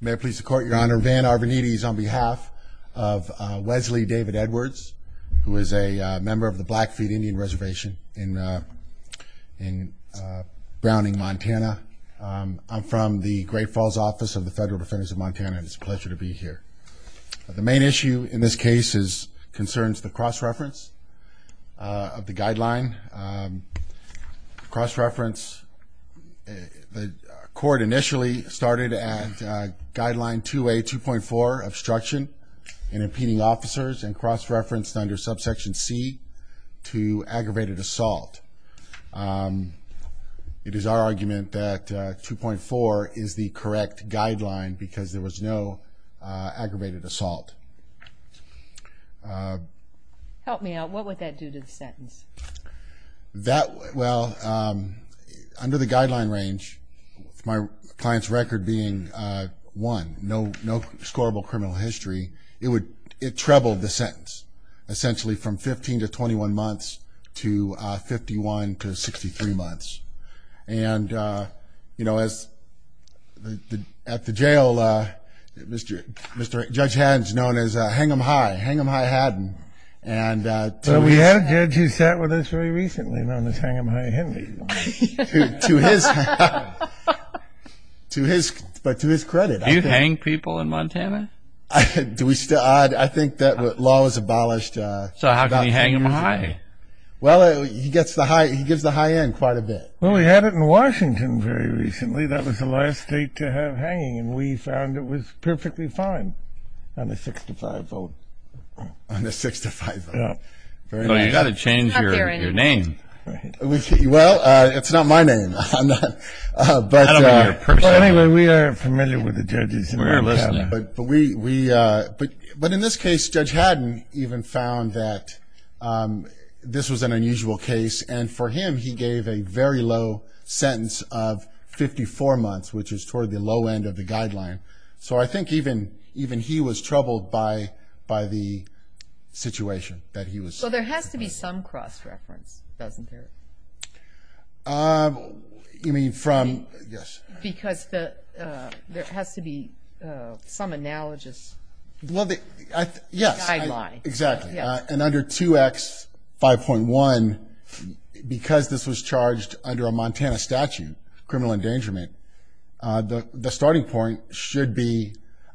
May it please the court, your honor, Van Arvanites on behalf of Wesley David Edwards, who is a member of the Blackfeet Indian Reservation in Browning, Montana. I'm from the Great Falls Office of the Federal Defenders of Montana and it's a pleasure to be here. The main issue in this case concerns the cross-reference of the guideline. Cross-reference, the court initially started at guideline 2A, 2.4 obstruction in impeding officers and cross-referenced under subsection C to aggravated assault. It is our argument that 2.4 is the correct guideline because there was no aggravated assault. Help me out. What would that do to the sentence? Under the guideline range, my client's record being 1, no scorable criminal history, it trebled the sentence essentially from 15 to 21 months to 51 to 63 months. At the jail, Mr. Judge Hedges, known as Hang'em High, Hang'em High Haddon. We had a judge who sat with us very recently known as Hang'em High Henry. But to his credit. Do you hang people in Montana? I think that law was abolished. So how can you hang'em high? Well, he gets the high end quite a bit. Well, we had it in Washington very recently. That was the last state to have hanging. And we found it was perfectly fine on the 6 to 5 vote. On the 6 to 5 vote. You've got to change your name. Well, it's not my name. But anyway, we are familiar with the judges in Montana. But in this case, Judge Haddon even found that this was an unusual case. And for him, he gave a very low sentence of 54 months, which is toward the low end of the guideline. So I think even he was troubled by the situation that he was. So there has to be some cross-reference, doesn't there? You mean from? Yes. Because there has to be some analogous guideline. Yes, exactly. And under 2X5.1, because this was charged under a Montana statute, criminal endangerment, the starting point should be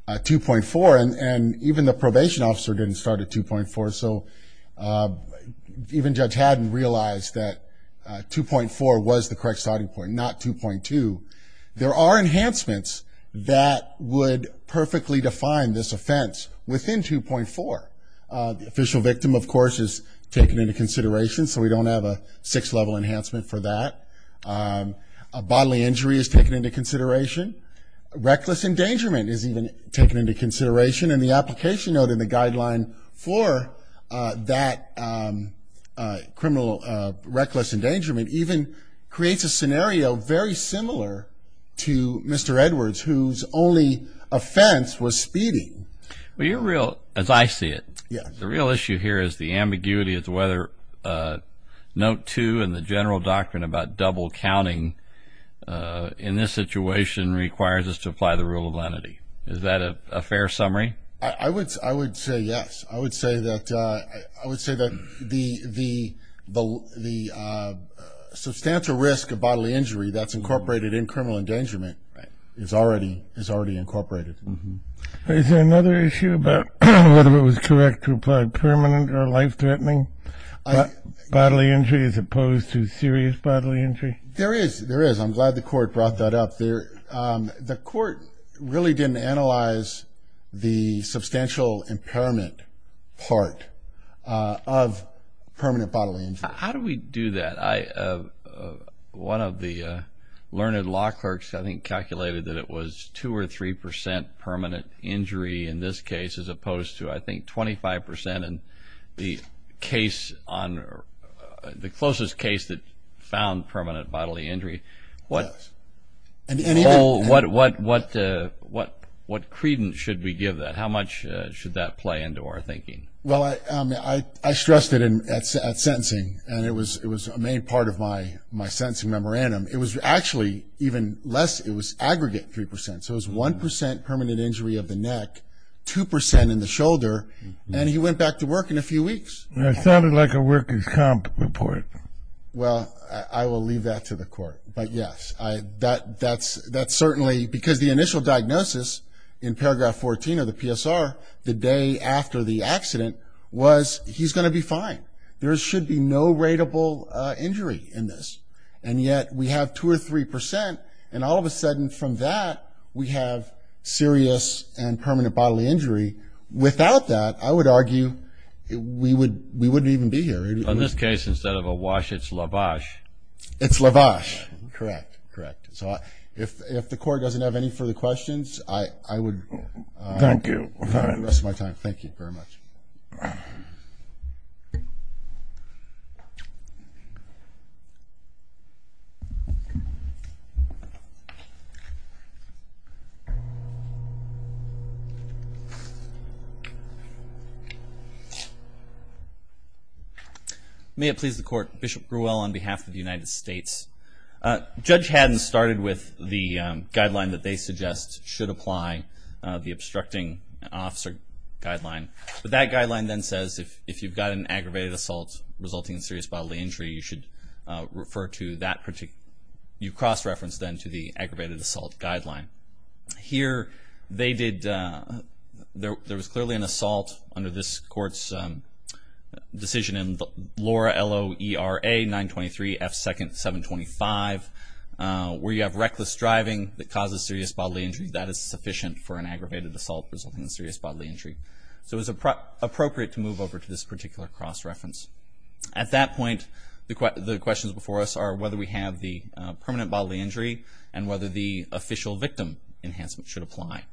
2.4. And even the probation officer didn't start at 2.4. So even Judge Haddon realized that 2.4 was the correct starting point, not 2.2. There are enhancements that would perfectly define this offense within 2.4. The official victim, of course, is taken into consideration. So we don't have a 6-level enhancement for that. A bodily injury is taken into consideration. Reckless endangerment is even taken into consideration. And the application note in the guideline for that criminal reckless endangerment even creates a scenario very similar to Mr. Edwards, whose only offense was speeding. As I see it, the real issue here is the ambiguity of whether Note 2 and the general doctrine about double counting in this situation requires us to apply the rule of lenity. Is that a fair summary? I would say yes. I would say that the substantial risk of bodily injury that's incorporated in criminal endangerment is already incorporated. Is there another issue about whether it was correct to apply permanent or life-threatening bodily injury as opposed to serious bodily injury? There is. There is. I'm glad the court brought that up. The court really didn't analyze the substantial impairment part of permanent bodily injury. How do we do that? One of the learned law clerks, I think, calculated that it was 2% or 3% permanent injury in this case as opposed to, I think, 25% in the case on the closest case that found permanent bodily injury. Yes. What credence should we give that? How much should that play into our thinking? I stressed it at sentencing, and it was a main part of my sentencing memorandum. It was actually even less. It was aggregate 3%. It was 1% permanent injury of the neck, 2% in the shoulder, and he went back to work in a few weeks. It sounded like a working comp report. Well, I will leave that to the court, but yes, that's certainly because the initial diagnosis in paragraph 14 of the PSR, the day after the accident, was he's going to be fine. There should be no rateable injury in this, and yet we have 2% or 3%, and all of a sudden from that, we have serious and permanent bodily injury. Without that, I would argue we wouldn't even be here. In this case, instead of a wash, it's lavash. It's lavash. Correct. Correct. So, if the court doesn't have any further questions, I would... Thank you.... have the rest of my time. Thank you very much. May it please the court. Bishop Grewell on behalf of the United States. Judge Haddon started with the guideline that they suggest should apply, the obstructing officer guideline, but that guideline then says if you've got an aggravated assault resulting in serious bodily injury, you should refer to that... You cross-reference then to the aggravated assault guideline. Here, they did... There was clearly an assault under this court's decision in Laura, L-O-E-R-A-923-F-2nd-725, where you have reckless driving that causes serious bodily injury. That is sufficient for an aggravated assault resulting in serious bodily injury. So it's appropriate to move over to this particular cross-reference. At that point, the questions before us are whether we have the permanent bodily injury and whether the official victim enhancement should apply.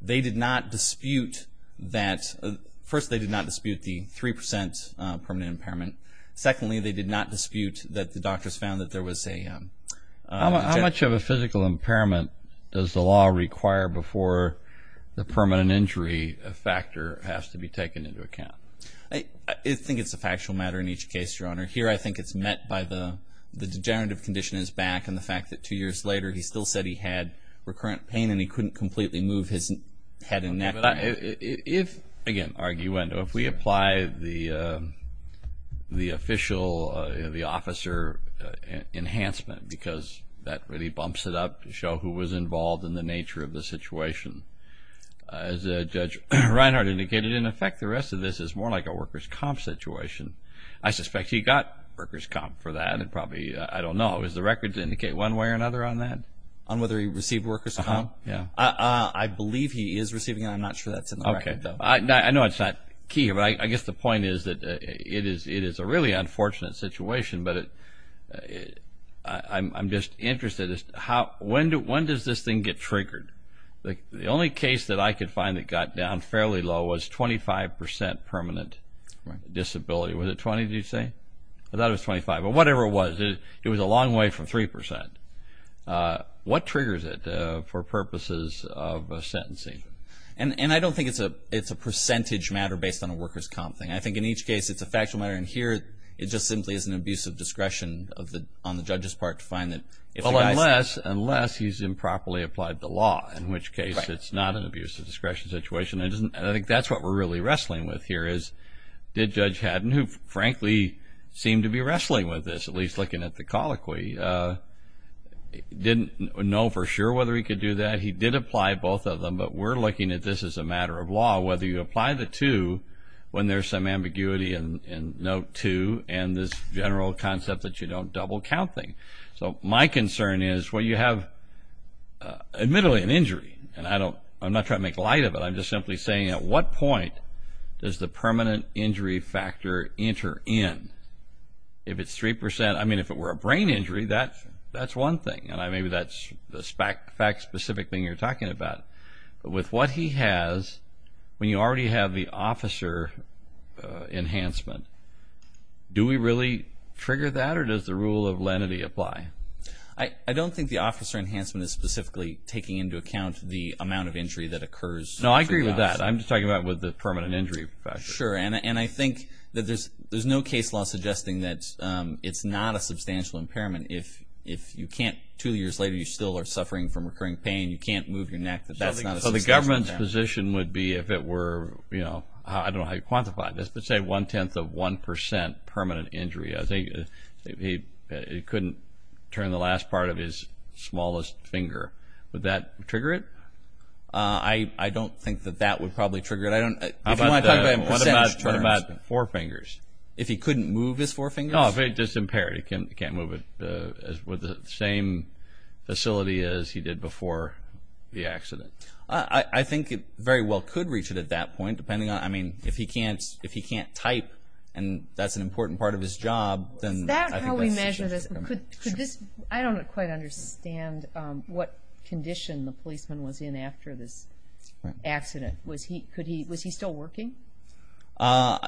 They did not dispute that... First, they did not dispute the 3% permanent impairment. Secondly, they did not dispute that the doctors found that there was a... How much of a physical impairment does the law require before the permanent injury factor has to be taken into account? I think it's a factual matter in each case, Your Honor. Here, I think it's met by the degenerative condition is back and the fact that two years later, he still said he had recurrent pain and he couldn't completely move his head and neck. If, again, arguendo, if we apply the official, the officer enhancement because that really bumps it up to show who was involved in the nature of the situation, as Judge Reinhardt indicated, in effect, the rest of this is more like a workers' comp situation. I suspect he got workers' comp for that and probably... I don't know. Is the record to indicate one way or another on that? On whether he received workers' comp? I believe he is receiving it. I'm not sure that's in the record, though. I know it's not key, but I guess the point is that it is a really unfortunate situation, but I'm just interested. When does this thing get triggered? The only case that I could find that got down fairly low was 25% permanent disability. Was it 20, did you say? I thought it was 25, but whatever it was. It was a long way from 3%. What triggers it for purposes of a sentencing? I don't think it's a percentage matter based on a workers' comp thing. I think in each case, it's a factual matter, and here, it just simply is an abuse of discretion on the judge's part to find that if the guy's... Unless he's improperly applied the law, in which case it's not an abuse of discretion situation. I think that's what we're really wrestling with here is did Judge Haddon, who frankly seemed to be wrestling with this, at least looking at the colloquy, didn't know for sure whether he could do that. He did apply both of them, but we're looking at this as a matter of law, whether you apply the two when there's some ambiguity in note two and this general concept that you don't double count thing. My concern is when you have, admittedly, an injury, and I'm not trying to make light of it, but I'm just simply saying at what point does the permanent injury factor enter in? If it's 3%, I mean, if it were a brain injury, that's one thing, and maybe that's the fact specific thing you're talking about. With what he has, when you already have the officer enhancement, do we really trigger that or does the rule of lenity apply? I don't think the officer enhancement is specifically taking into account the amount of injury that Well, I agree with that. I'm just talking about with the permanent injury factor. Sure, and I think that there's no case law suggesting that it's not a substantial impairment if you can't, two years later, you still are suffering from recurring pain, you can't move your neck, that that's not a substantial impairment. So the government's position would be if it were, I don't know how you quantify this, but say one-tenth of 1% permanent injury, I think he couldn't turn the last part of his smallest finger. Would that trigger it? I don't think that that would probably trigger it. If you want to talk about percentage turns. What about four fingers? If he couldn't move his four fingers? Oh, if it's impaired, he can't move it, with the same facility as he did before the accident. I think it very well could reach it at that point, depending on, I mean, if he can't type and that's an important part of his job, then I think that's a significant impairment. Is that how we measure this? I don't quite understand what condition the policeman was in after this accident. Was he still working?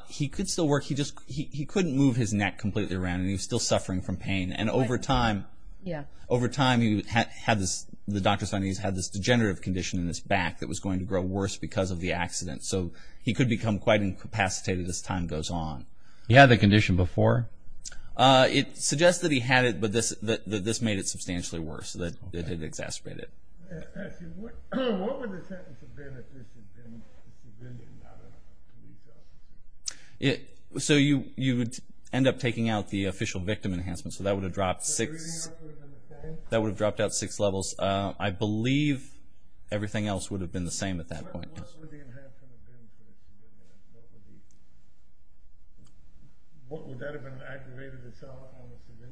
He could still work, he just, he couldn't move his neck completely around and he was still suffering from pain. And over time, over time he had this, the doctor said he had this degenerative condition in his back that was going to grow worse because of the accident. So he could become quite incapacitated as time goes on. He had the condition before? It suggests that he had it, but this made it substantially worse, it exacerbated it. What would the sentence have been if this had been the endowment of the police officer? So you would end up taking out the official victim enhancement, so that would have dropped six, that would have dropped out six levels. I believe everything else would have been the same at that point. What would the enhancement have been for the two of them? Would that have been an aggravated assault on the civilian?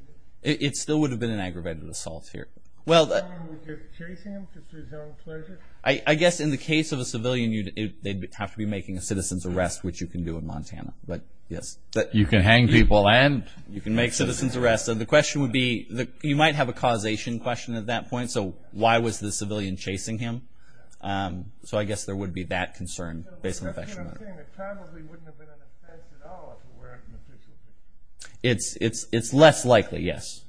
It still would have been an aggravated assault here. Would you chase him to his own pleasure? I guess in the case of a civilian, they'd have to be making a citizen's arrest, which you can do in Montana, but yes. You can hang people and? You can make citizen's arrests. So the question would be, you might have a causation question at that point, so why was the civilian chasing him? So I guess there would be that concern based on the question. That's what I'm saying. It probably wouldn't have been an offense at all if it weren't an official victim. It's less likely, yes.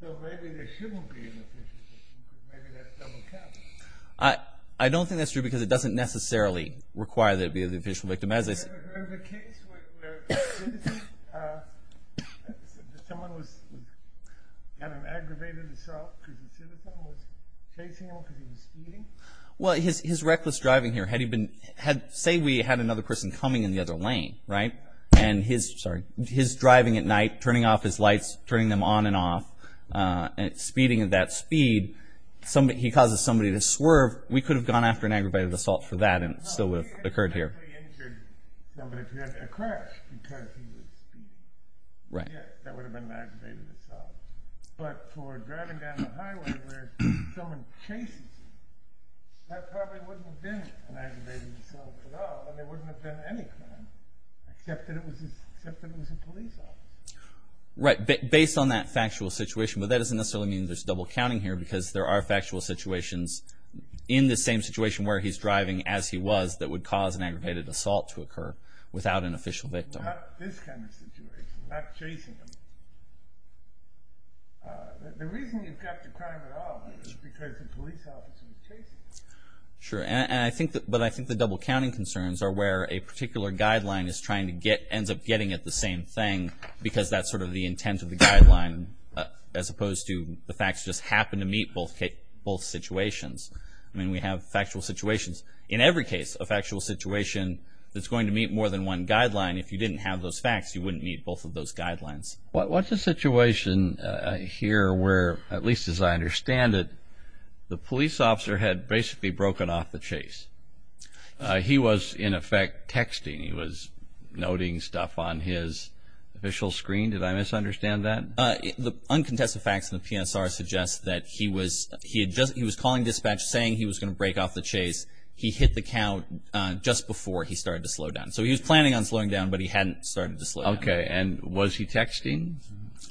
So maybe there shouldn't be an official victim, because maybe that's double-counting. I don't think that's true, because it doesn't necessarily require there to be an official victim. Have you ever heard of a case where someone had an aggravated assault because a citizen was chasing him because he was speeding? Well, his reckless driving here, say we had another person coming in the other lane, right? And his driving at night, turning off his lights, turning them on and off, speeding at that speed, he causes somebody to swerve. We could have gone after an aggravated assault for that and it still would have occurred here. No, but if he had a crash because he was speeding. Right. Yes, that would have been an aggravated assault. But for driving down the highway where someone chases him, that probably wouldn't have been an aggravated assault at all, and there wouldn't have been any crime, except that it was a police officer. Right, based on that factual situation. But that doesn't necessarily mean there's double-counting here, because there are factual situations in the same situation where he's driving as he was that would cause an aggravated assault to occur without an official victim. Not this kind of situation, not chasing him. The reason you've got the crime at all is because the police officer was chasing him. Sure, but I think the double-counting concerns are where a particular guideline is trying to get, ends up getting at the same thing, because that's sort of the intent of the guideline, as opposed to the facts just happen to meet both situations. I mean, we have factual situations in every case, a factual situation that's going to meet more than one guideline. If you didn't have those facts, you wouldn't meet both of those guidelines. What's the situation here where, at least as I understand it, the police officer had basically broken off the chase? He was, in effect, texting. He was noting stuff on his official screen. Did I misunderstand that? The uncontested facts in the PSR suggest that he was calling dispatch, saying he was going to break off the chase. He hit the count just before he started to slow down. So he was planning on slowing down, but he hadn't started to slow down. Okay, and was he texting?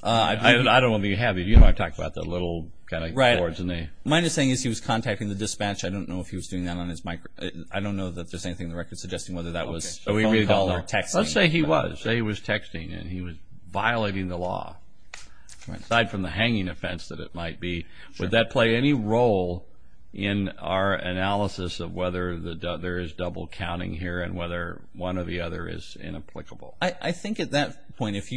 I don't want to be heavy. You know I've talked about the little kind of cords. Right. Mine is saying he was contacting the dispatch. I don't know if he was doing that on his microphone. I don't know that there's anything in the record suggesting whether that was a phone call or texting. Let's say he was. Say he was texting, and he was violating the law, aside from the hanging offense that it might be. Would that play any role in our analysis of whether there is double-counting here and whether one or the other is inapplicable? I think at that point, if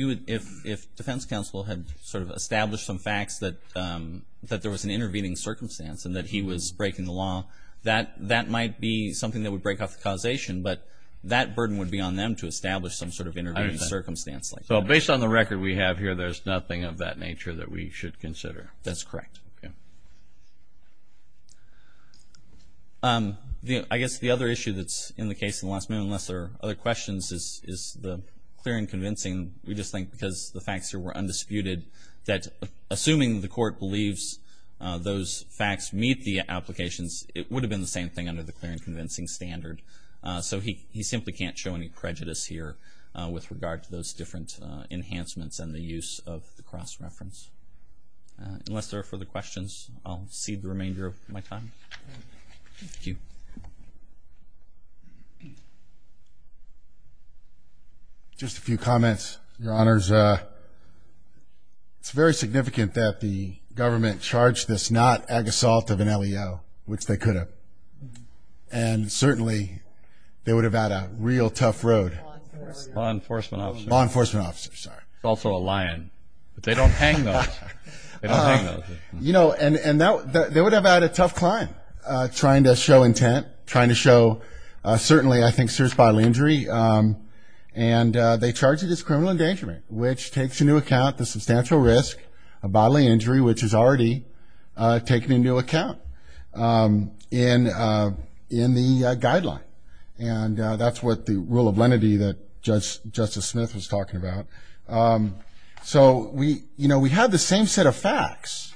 defense counsel had sort of established some facts that there was an intervening circumstance and that he was breaking the law, that might be something that would break off the causation, but that burden would be on them to establish some sort of intervening circumstance. So based on the record we have here, there's nothing of that nature that we should consider. That's correct. Okay. I guess the other issue that's in the case in the last minute, unless there are other questions, is the clear and convincing. We just think because the facts here were undisputed that assuming the court believes those facts meet the applications, it would have been the same thing under the clear and convincing standard. So he simply can't show any prejudice here with regard to those different enhancements and the use of the cross-reference. Unless there are further questions, I'll cede the remainder of my time. Thank you. Just a few comments, Your Honors. It's very significant that the government charged this not agassault of an LEO, which they could have, and certainly they would have had a real tough road. Law enforcement officer. Law enforcement officer, sorry. It's also a lion, but they don't hang those. They don't hang those. You know, and they would have had a tough climb trying to show intent, trying to show certainly, I think, serious bodily injury. And they charge it as criminal endangerment, which takes into account the substantial risk of bodily injury, which is already taken into account in the guideline. And that's what the rule of lenity that Justice Smith was talking about. So we, you know, we have the same set of facts,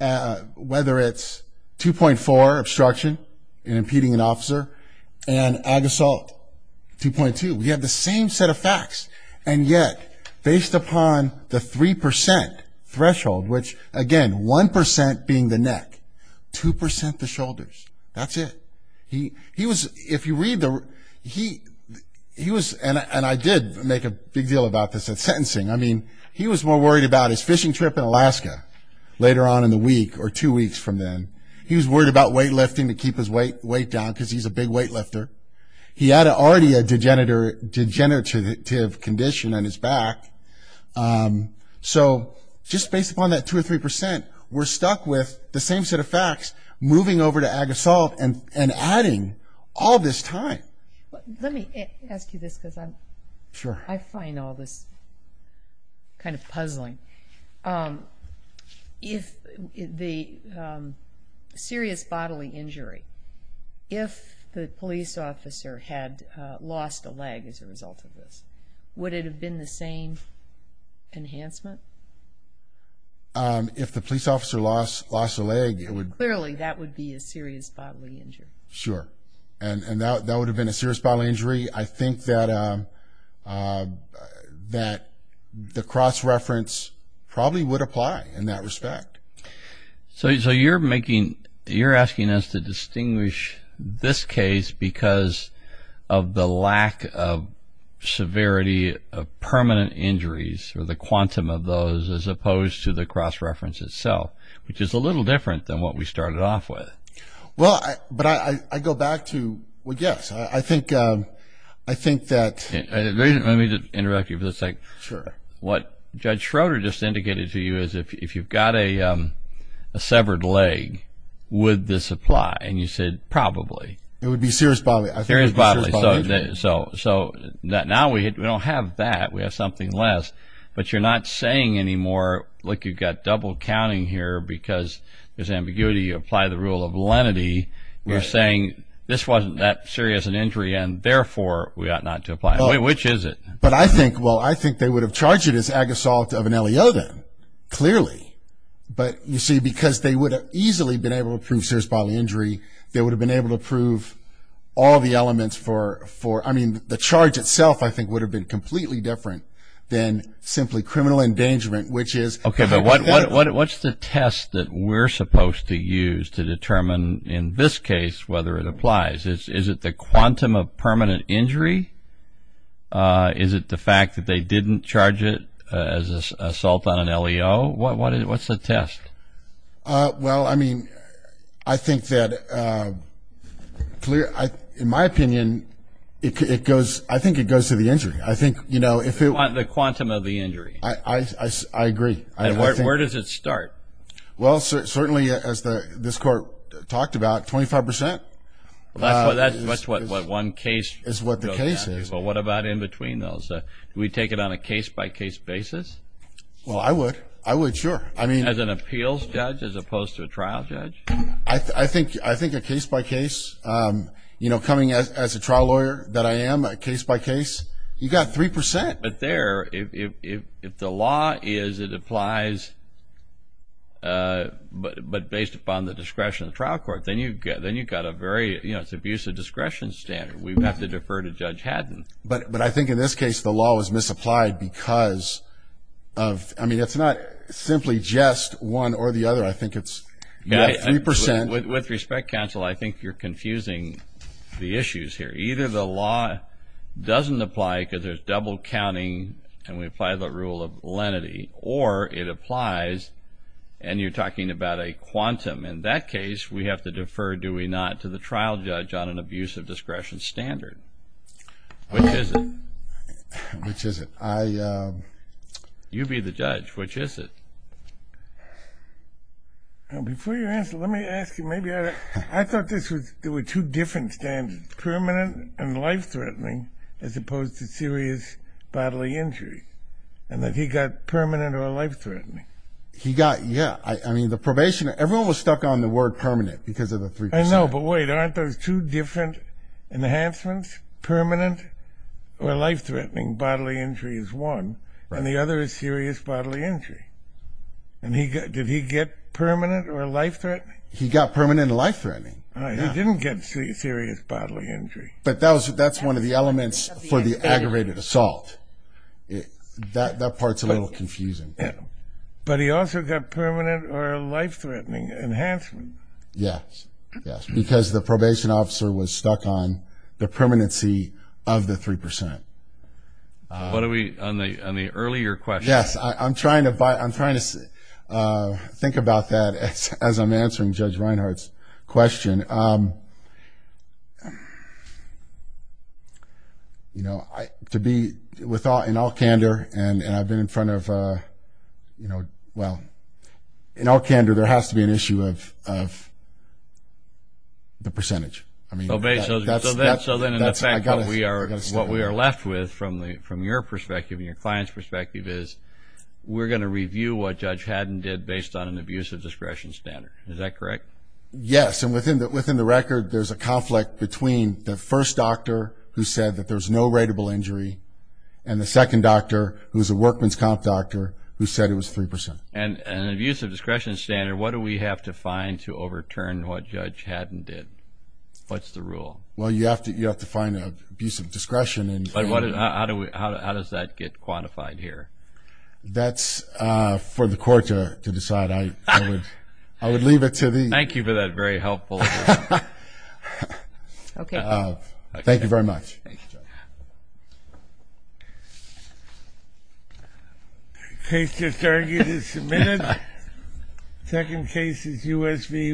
whether it's 2.4, obstruction in impeding an officer, and agassault 2.2. We have the same set of facts. And yet, based upon the 3% threshold, which, again, 1% being the neck, 2% the shoulders. That's it. He was, if you read the, he was, and I did make a big deal about this at sentencing. I mean, he was more worried about his fishing trip in Alaska later on in the week or two weeks from then. He was worried about weightlifting to keep his weight down because he's a big weightlifter. He had already a degenerative condition on his back. So just based upon that 2% or 3%, we're stuck with the same set of facts, moving over to agassault and adding all this time. Let me ask you this because I'm, I find all this kind of puzzling. If the serious bodily injury, if the police officer had lost a leg as a result of this, would it have been the same enhancement? If the police officer lost a leg, it would. Clearly, that would be a serious bodily injury. Sure. And that would have been a serious bodily injury. I think that the cross-reference probably would apply in that respect. So you're making, you're asking us to distinguish this case because of the lack of severity of permanent injuries or the quantum of those as opposed to the cross-reference itself, which is a little different than what we started off with. Well, but I go back to, yes, I think that… Let me interrupt you for a second. Sure. What Judge Schroeder just indicated to you is if you've got a severed leg, would this apply? And you said probably. It would be serious bodily. Serious bodily. So now we don't have that. We have something less. But you're not saying anymore, look, you've got double counting here because there's ambiguity. You apply the rule of lenity. You're saying this wasn't that serious an injury and, therefore, we ought not to apply. Which is it? But I think, well, I think they would have charged it as ag assault of an LEO then, clearly. But, you see, because they would have easily been able to prove serious bodily injury, they would have been able to prove all the elements for, I mean, the charge itself, I think, would have been completely different than simply criminal endangerment, which is… Okay. But what's the test that we're supposed to use to determine in this case whether it applies? Is it the quantum of permanent injury? Is it the fact that they didn't charge it as assault on an LEO? What's the test? Well, I mean, I think that, in my opinion, it goes, I think it goes to the injury. I think, you know, if it… The quantum of the injury. I agree. And where does it start? Well, certainly, as this Court talked about, 25%. That's what one case… Is what the case is. But what about in between those? Do we take it on a case-by-case basis? Well, I would. I would, sure. As an appeals judge as opposed to a trial judge? I think a case-by-case, you know, coming as a trial lawyer that I am, a case-by-case, you've got 3%. But there, if the law is it applies, but based upon the discretion of the trial court, then you've got a very, you know, it's abuse of discretion standard. We'd have to defer to Judge Haddon. But I think, in this case, the law was misapplied because of… I mean, it's not simply just one or the other. I think it's 3%. With respect, counsel, I think you're confusing the issues here. Either the law doesn't apply because there's double counting and we apply the rule of lenity, or it applies and you're talking about a quantum. In that case, we have to defer, do we not, to the trial judge on an abuse of discretion standard. Which is it? Which is it? You be the judge. Which is it? Before you answer, let me ask you, maybe I thought there were two different standards, permanent and life-threatening, as opposed to serious bodily injury, and that he got permanent or life-threatening. He got, yeah. I mean, the probation, everyone was stuck on the word permanent because of the 3%. No, but wait, aren't those two different enhancements? Permanent or life-threatening bodily injury is one, and the other is serious bodily injury. And did he get permanent or life-threatening? He got permanent and life-threatening. He didn't get serious bodily injury. But that's one of the elements for the aggravated assault. That part's a little confusing. But he also got permanent or life-threatening enhancement. Yes, yes, because the probation officer was stuck on the permanency of the 3%. What are we on the earlier question? Yes, I'm trying to think about that as I'm answering Judge Reinhart's question. You know, to be in all candor, and I've been in front of, you know, well, in all candor, there has to be an issue of the percentage. So, then, in effect, what we are left with from your perspective and your client's perspective is we're going to review what Judge Haddon did based on an abusive discretion standard. Is that correct? Yes, and within the record, there's a conflict between the first doctor who said that there's no rateable injury and the second doctor, who's a workman's comp doctor, who said it was 3%. And an abusive discretion standard, what do we have to find to overturn what Judge Haddon did? What's the rule? Well, you have to find an abusive discretion. How does that get quantified here? That's for the court to decide. I would leave it to the… Thank you for that very helpful… Okay. Thank you very much. Thank you, Judge.